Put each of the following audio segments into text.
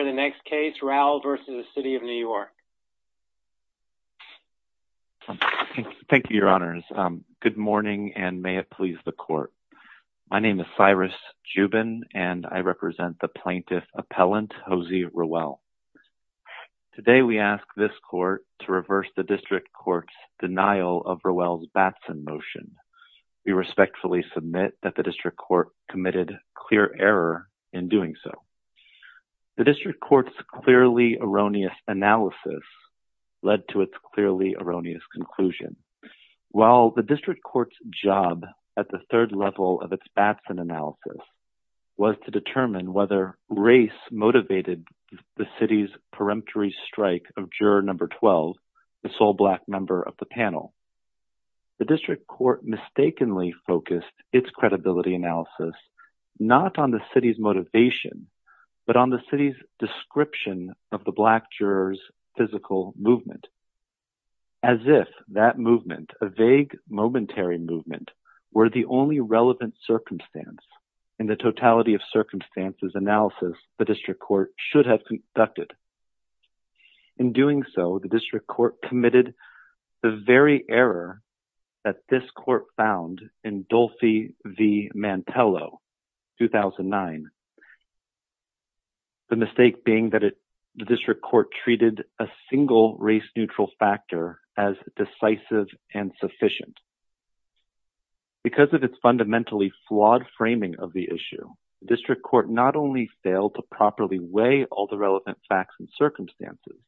Thank you your honors. Good morning and may it please the court. My name is Cyrus Jubin and I represent the plaintiff appellant Josie Rowell. Today we ask this court to reverse the district court's denial of Rowell's Batson motion. We respectfully submit that the district court committed clear error in doing so. The district court's clearly erroneous analysis led to its clearly erroneous conclusion. While the district court's job at the third level of its Batson analysis was to determine whether race motivated the city's peremptory strike of juror number 12, the sole black member of the panel, the district court mistakenly focused its credibility analysis not on the city's motivation but on the city's description of the black juror's physical movement. As if that movement, a vague momentary movement, were the only relevant circumstance in the totality of circumstances analysis the district court should have conducted. In doing so, the district court committed the very error that this court found in Dolphy v. Mantello 2009. The mistake being that it the district court treated a single race neutral factor as decisive and sufficient. Because of its fundamentally flawed framing of the issue, the district court not only failed to properly weigh all the relevant facts and circumstances,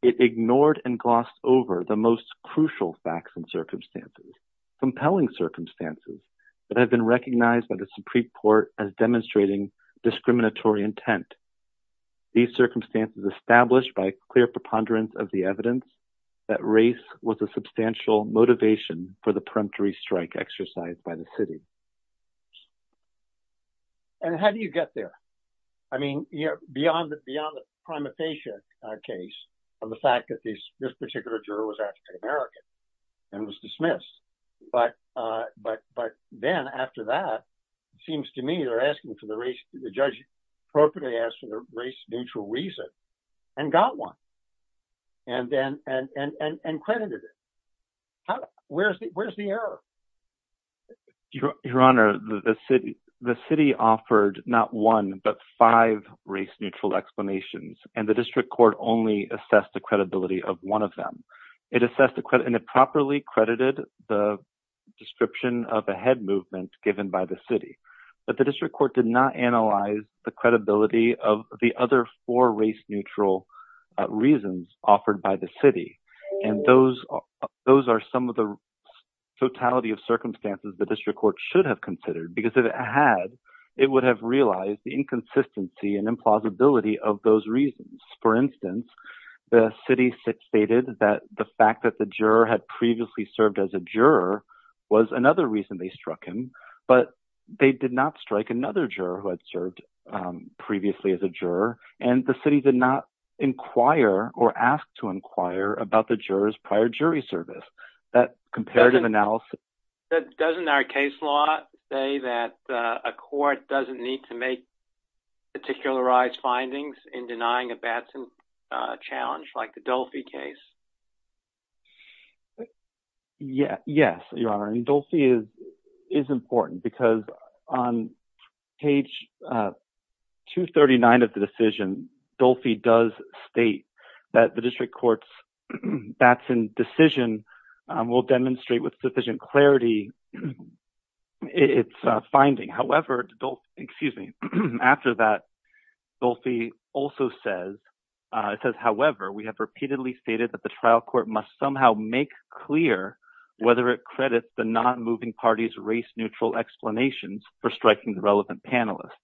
it ignored and glossed over the most crucial facts and circumstances. Compelling circumstances that have been recognized by the Supreme Court as demonstrating discriminatory intent. These circumstances established by clear preponderance of the evidence that race was a substantial motivation for the peremptory strike exercised by the city. And how do you get there? I mean, you know, beyond the prima facie case of the fact that this particular juror was African American and was dismissed. But then after that, it seems to me they're asking for the race, the judge appropriately asked for the race neutral reason and got one. And credited it. Where's the error? Your Honor, the city offered not one but five race neutral explanations and the district court only assessed the credibility of one of them. It assessed the credit and it properly credited the description of a head movement given by the city. But the district court did not analyze the credibility of the other four race neutral reasons offered by the city. And those are some of the totality of circumstances the district should have considered. Because if it had, it would have realized the inconsistency and implausibility of those reasons. For instance, the city stated that the fact that the juror had previously served as a juror was another reason they struck him. But they did not strike another juror who had served previously as a juror. And the city did not inquire or ask to say that a court doesn't need to make particularized findings in denying a Batson challenge like the Dolfi case. Yes, Your Honor. And Dolfi is important because on page 239 of the decision, Dolfi does state that the district court's Batson decision will demonstrate with sufficient clarity its finding. However, Dolfi also says, it says, however, we have repeatedly stated that the trial court must somehow make clear whether it credits the non-moving parties race neutral explanations for striking the relevant panelists.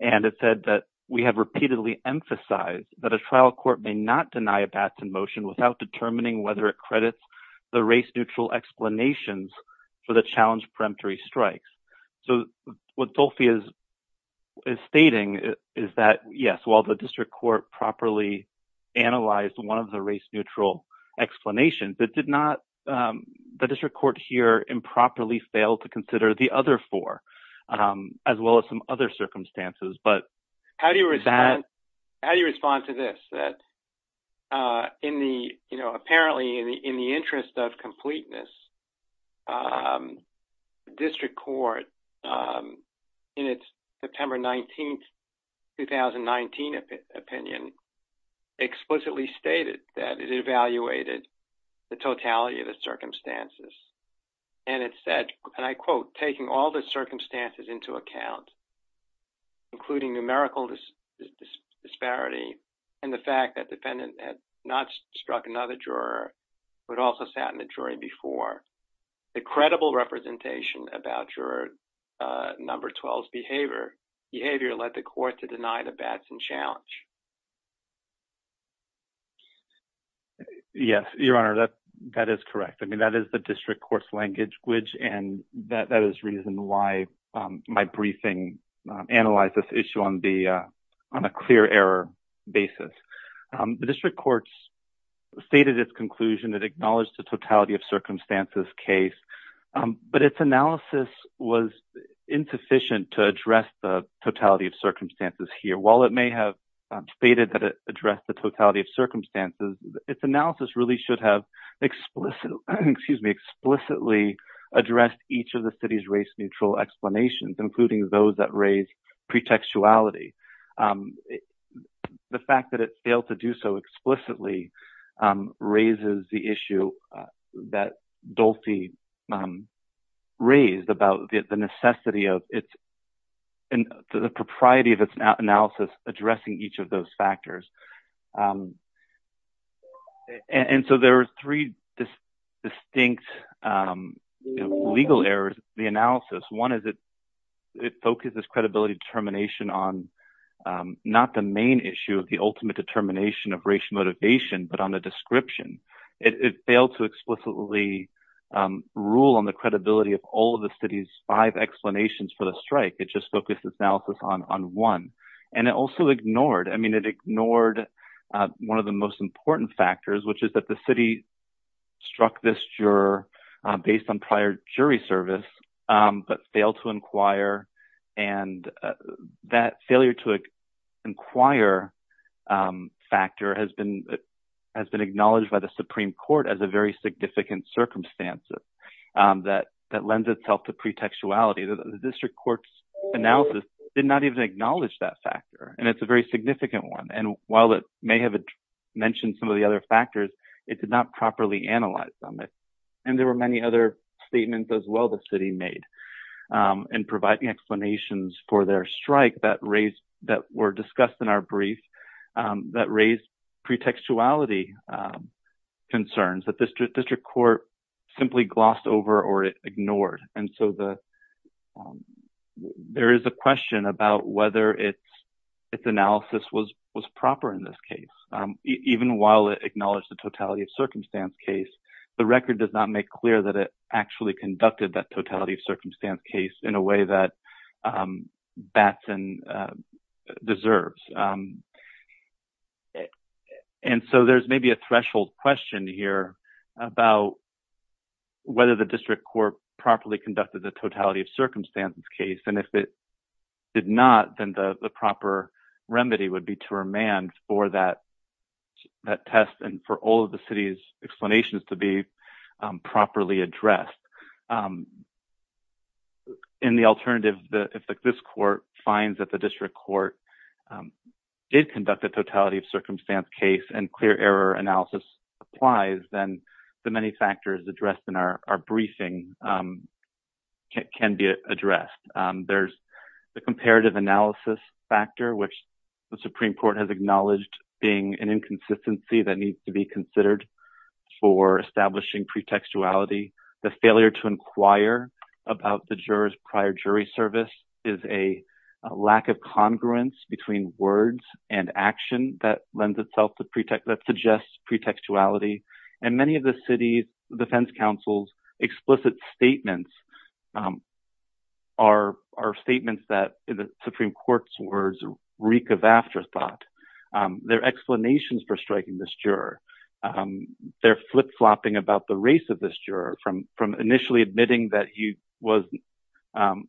And it said that we have repeatedly emphasized that a trial court may not deny a Batson motion without determining whether it credits the race neutral explanations for the challenge peremptory strikes. So what Dolfi is stating is that, yes, while the district court properly analyzed one of the race neutral explanations, it did not, the district court here improperly failed to consider the other four, as well as some other circumstances. But... How do you respond to this? That in the, you know, apparently in the interest of completeness, the district court in its September 19th, 2019 opinion explicitly stated that it evaluated the totality of the circumstances. And it said, and I quote, taking all the circumstances into account, including numerical disparity, and the fact that defendant had not struck another juror, but also sat in the jury before, the credible representation about juror number 12's behavior, behavior led the court to deny the Batson challenge. Yes, your honor, that, that is correct. I mean, that is the district court's language, which, and that is reason why my briefing analyzed this issue on the, on a clear error basis. The district courts stated its conclusion that acknowledged the totality of circumstances case, but its analysis was insufficient to address the totality of circumstances here. While it may have stated that it addressed the totality of circumstances, its analysis really should have explicitly, excuse me, explicitly addressed each of the city's race neutral explanations, including those that raise pretextuality. The fact that it failed to do so explicitly raises the issue that Dolce raised about the necessity of its, and the propriety of its analysis addressing each of those factors. And so there are three distinct legal errors in the analysis. One is that it focuses credibility determination on not the main issue of the ultimate determination of racial motivation, but on the description. It failed to explicitly rule on the credibility of all of the city's five explanations for the strike. It just focused its analysis on one. And it also ignored, I mean, it ignored one of the most important factors, which is that the city struck this juror based on prior jury service, but failed to inquire. And that failure to inquire factor has been, has been acknowledged by the Supreme Court as a very significant circumstances that, that lends itself to pretextuality. The district courts analysis did not even acknowledge that and while it may have mentioned some of the other factors, it did not properly analyze them. And there were many other statements as well, the city made and providing explanations for their strike that raised, that were discussed in our brief that raised pretextuality concerns that this district court simply glossed over or ignored. And so the, there is a question about whether it's, analysis was proper in this case. Even while it acknowledged the totality of circumstance case, the record does not make clear that it actually conducted that totality of circumstance case in a way that Batson deserves. And so there's maybe a threshold question here about whether the district court properly conducted the totality of circumstances case. And if it did not, then the proper remedy would be to remand for that, that test and for all of the city's explanations to be properly addressed. In the alternative, if this court finds that the district court did conduct the totality of circumstance case and clear error analysis applies, then the many factors addressed in our briefing can be addressed. There's the comparative analysis factor, which the Supreme court has acknowledged being an inconsistency that needs to be considered for establishing pretextuality. The failure to inquire about the jurors prior jury service is a lack of congruence between words and action that lends itself to pretext that suggests pretextuality. And many of the city's defense councils, explicit statements are statements that the Supreme court's words reek of afterthought, their explanations for striking this juror. They're flip-flopping about the race of this juror from initially admitting that he was an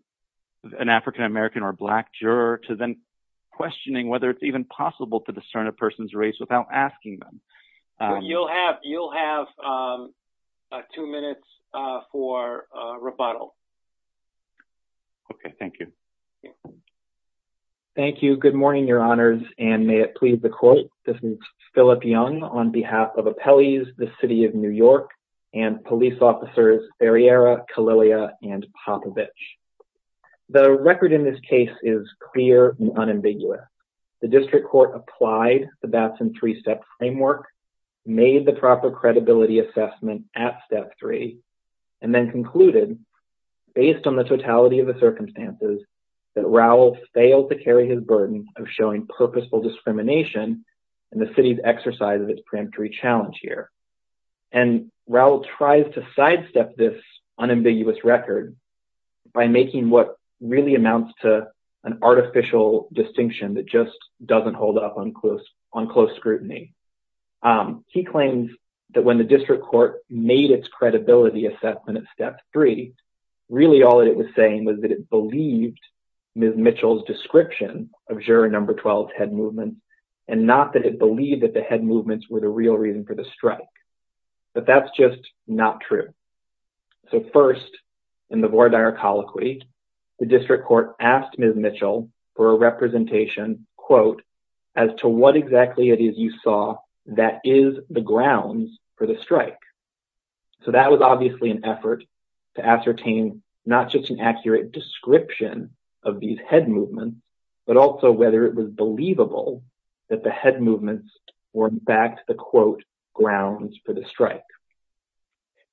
African-American or black juror to then questioning whether it's even possible to discern a person's race without asking them. You'll have, you'll have, um, uh, two minutes, uh, for, uh, rebuttal. Okay. Thank you. Thank you. Good morning, your honors, and may it please the court. This is Philip Young on behalf of appellees, the city of New York and police officers, Barry era, Kalilia and Papa bitch. The record in this case is clear and unambiguous. The district court applied the Batson three-step framework, made the proper credibility assessment at step three, and then concluded based on the totality of the circumstances that Raul failed to carry his burden of showing purposeful discrimination and the city's exercise of its preemptory challenge here. And Raul tries to sidestep this unambiguous record by making what really amounts to an artificial distinction that just doesn't hold up on close on close scrutiny. Um, he claims that when the district court made its credibility assessment at step three, really all it was saying was that it believed Ms. Mitchell's description of juror number 12 head movements, and not that it believed that head movements were the real reason for the strike, but that's just not true. So first in the board, our colloquy, the district court asked Ms. Mitchell for a representation quote, as to what exactly it is you saw that is the grounds for the strike. So that was obviously an effort to ascertain not just an accurate description of these head movements, but also whether it was believable that the head movements were in fact the quote grounds for the strike.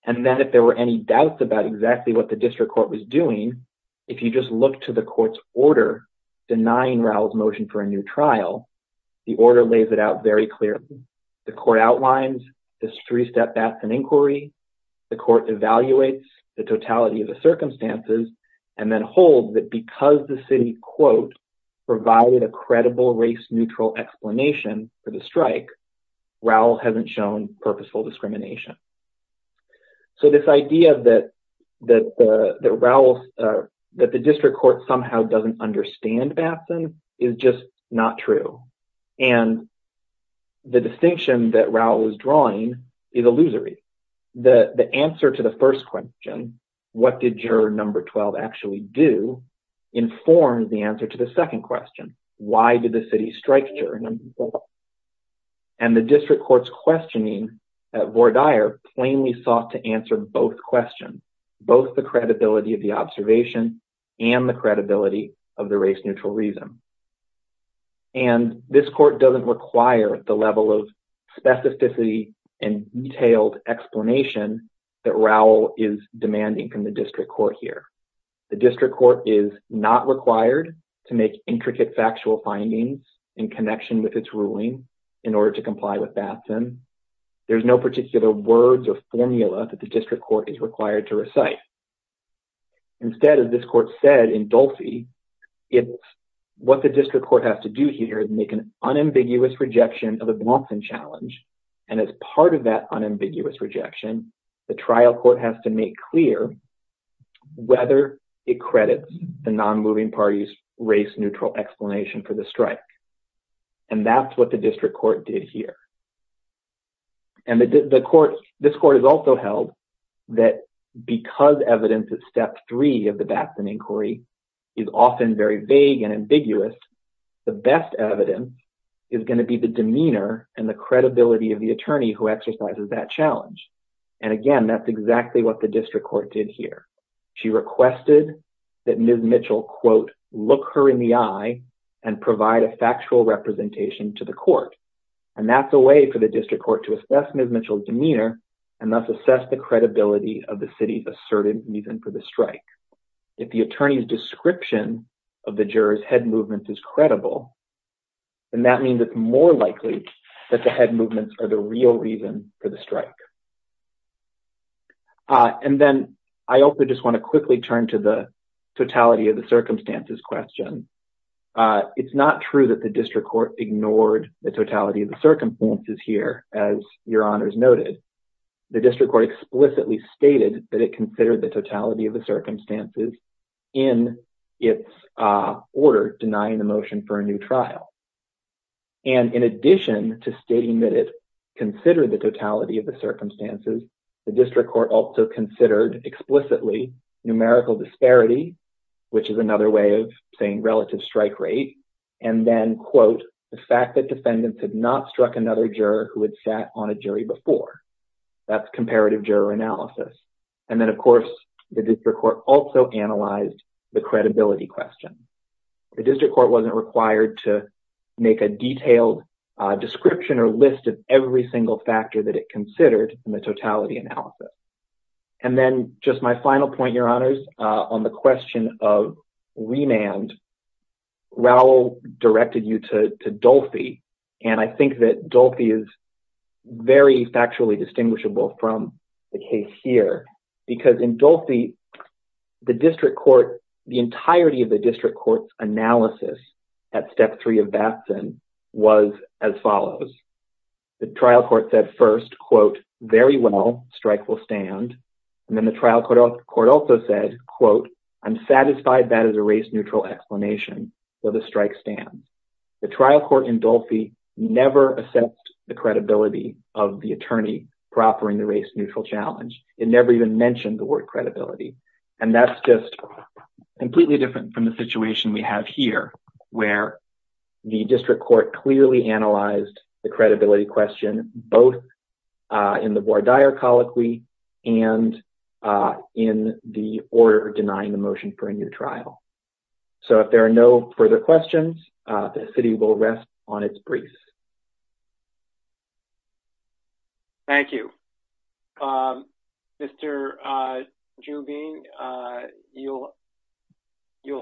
And then if there were any doubts about exactly what the district court was doing, if you just look to the court's order denying Raul's motion for a new trial, the order lays it out very clearly. The court outlines this three-step bats and inquiry, the court evaluates the totality of the circumstances, and then holds that because the city quote provided a credible race-neutral explanation for the strike, Raul hasn't shown purposeful discrimination. So this idea that the district court somehow doesn't understand Batson is just not true. And the distinction that Raul was drawing is illusory. The answer to the first question, what did juror number 12 actually do, informs the answer to the second question, why did the city strike juror number 12? And the district court's questioning at Vordaer plainly sought to answer both questions, both the credibility of the observation and the credibility of the race-neutral reason. And this court doesn't require the level of specificity and detailed explanation that Raul is demanding from the district court here. The district court is not required to make intricate factual findings in connection with its ruling in order to comply with Batson. There's no particular words or formula that the district court is required to recite. Instead, as this court said in Dulphy, what the district court has to do here is make an unambiguous rejection, the trial court has to make clear whether it credits the non-moving party's race-neutral explanation for the strike. And that's what the district court did here. And the court, this court has also held that because evidence of step three of the Batson inquiry is often very vague and ambiguous, the best evidence is going to be the demeanor and the challenge. And again, that's exactly what the district court did here. She requested that Ms. Mitchell quote, look her in the eye and provide a factual representation to the court. And that's a way for the district court to assess Ms. Mitchell's demeanor and thus assess the credibility of the city's asserted reason for the strike. If the attorney's description of the juror's head movements is credible, then that means it's more likely that the head movements are the real reason for the strike. And then I also just want to quickly turn to the totality of the circumstances question. It's not true that the district court ignored the totality of the circumstances here, as your honors noted. The district court explicitly stated that it considered the totality of the circumstances in its order denying the motion for a new trial. And in addition to stating that it considered the totality of the circumstances, the district court also considered explicitly numerical disparity, which is another way of saying relative strike rate, and then quote, the fact that defendants had not struck another juror who had sat on a jury before. That's comparative juror analysis. And then of course, the district court also analyzed the credibility question. The district court wasn't required to make a detailed description or list of every single factor that it considered in the totality analysis. And then just my final point, your honors, on the question of remand, Raul directed you to Dolfi, and I think that Dolfi is very factually distinguishable from the case here, because in Dolfi, the district court, the entirety of the district court's analysis at step three of Batson was as follows. The trial court said first, quote, very well, strike will stand. And then the trial court also said, quote, I'm satisfied that is a race neutral explanation, so the strike stands. The trial court in Dolfi never assessed the credibility of the attorney proffering the race neutral challenge. It never even mentioned the word credibility. And that's just completely different from the situation we have here, where the district court clearly analyzed the credibility question, both in the voir dire colloquy and in the order of denying the motion for a new trial. So if there are no further questions, the city will rest on its briefs. Thank you. Mr. Jubin, you'll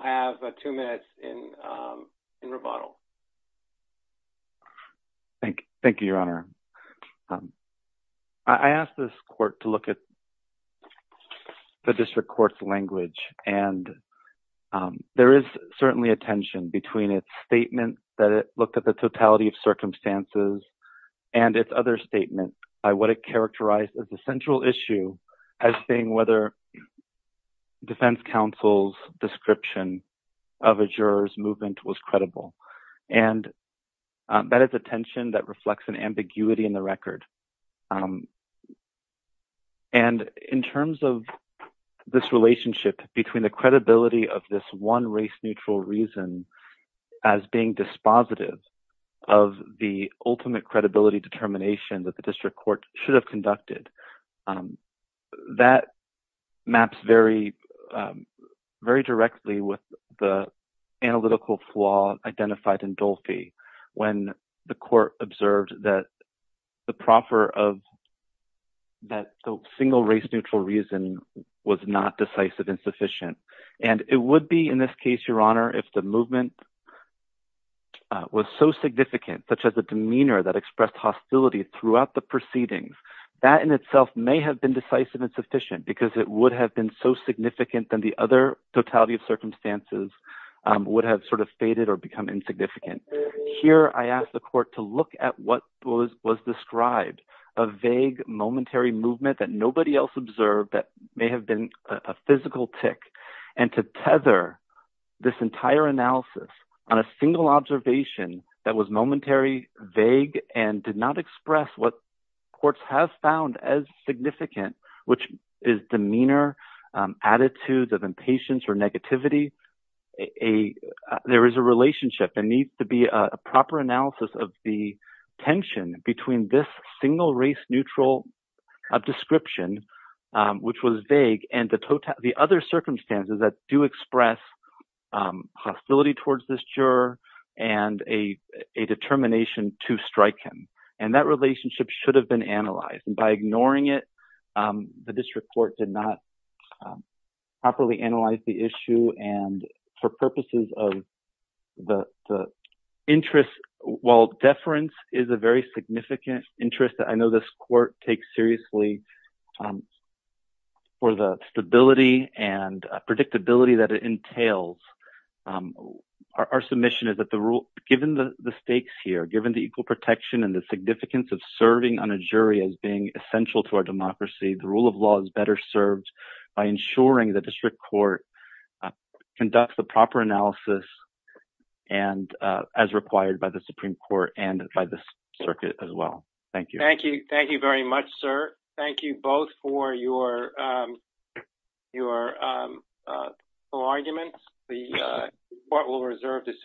have two minutes in rebuttal. Thank you, your honor. I asked this court to look at the district court's record. There is certainly a tension between its statement that it looked at the totality of circumstances and its other statement by what it characterized as the central issue, as saying whether defense counsel's description of a juror's movement was credible. And that is a tension that reflects an ambiguity in the record. And in terms of this relationship between the credibility of this one race neutral reason as being dispositive of the ultimate credibility determination that the district court should have conducted, that maps very directly with the analytical flaw identified in Dolfi when the court observed that the proffer of that single race neutral reason was not decisive and sufficient. And it would be in this case, your honor, if the movement was so significant, such as the demeanor that expressed hostility throughout the proceedings, that in itself may have been decisive and sufficient because it would have been so significant than the other totality of circumstances would have sort of faded or become insignificant. Here, I asked the court to look at what was described, a vague momentary movement that nobody else observed that may have been a physical tick, and to tether this entire analysis on a single observation that was momentary, vague, and did not express what courts have found as significant, which is demeanor, attitudes of impatience or negativity. There is a relationship that needs to be a proper analysis of the tension between this single race neutral description, which was vague, and the other circumstances that do express hostility towards this juror and a determination to strike him. And that relationship should have been analyzed. And by ignoring it, the district court did not properly analyze the issue. And for purposes of the interest, while deference is a very significant interest that I know this court takes seriously for the stability and predictability that it entails, our submission is that the rule, given the stakes here, given the equal protection and the significance of serving on a jury as being essential to our democracy, the rule of law is better served by ensuring the district court conducts the proper analysis as required by the Supreme Court and by the circuit as well. Thank you. Thank you. Thank you very much, sir. Thank you both for your arguments. The court will reserve decision.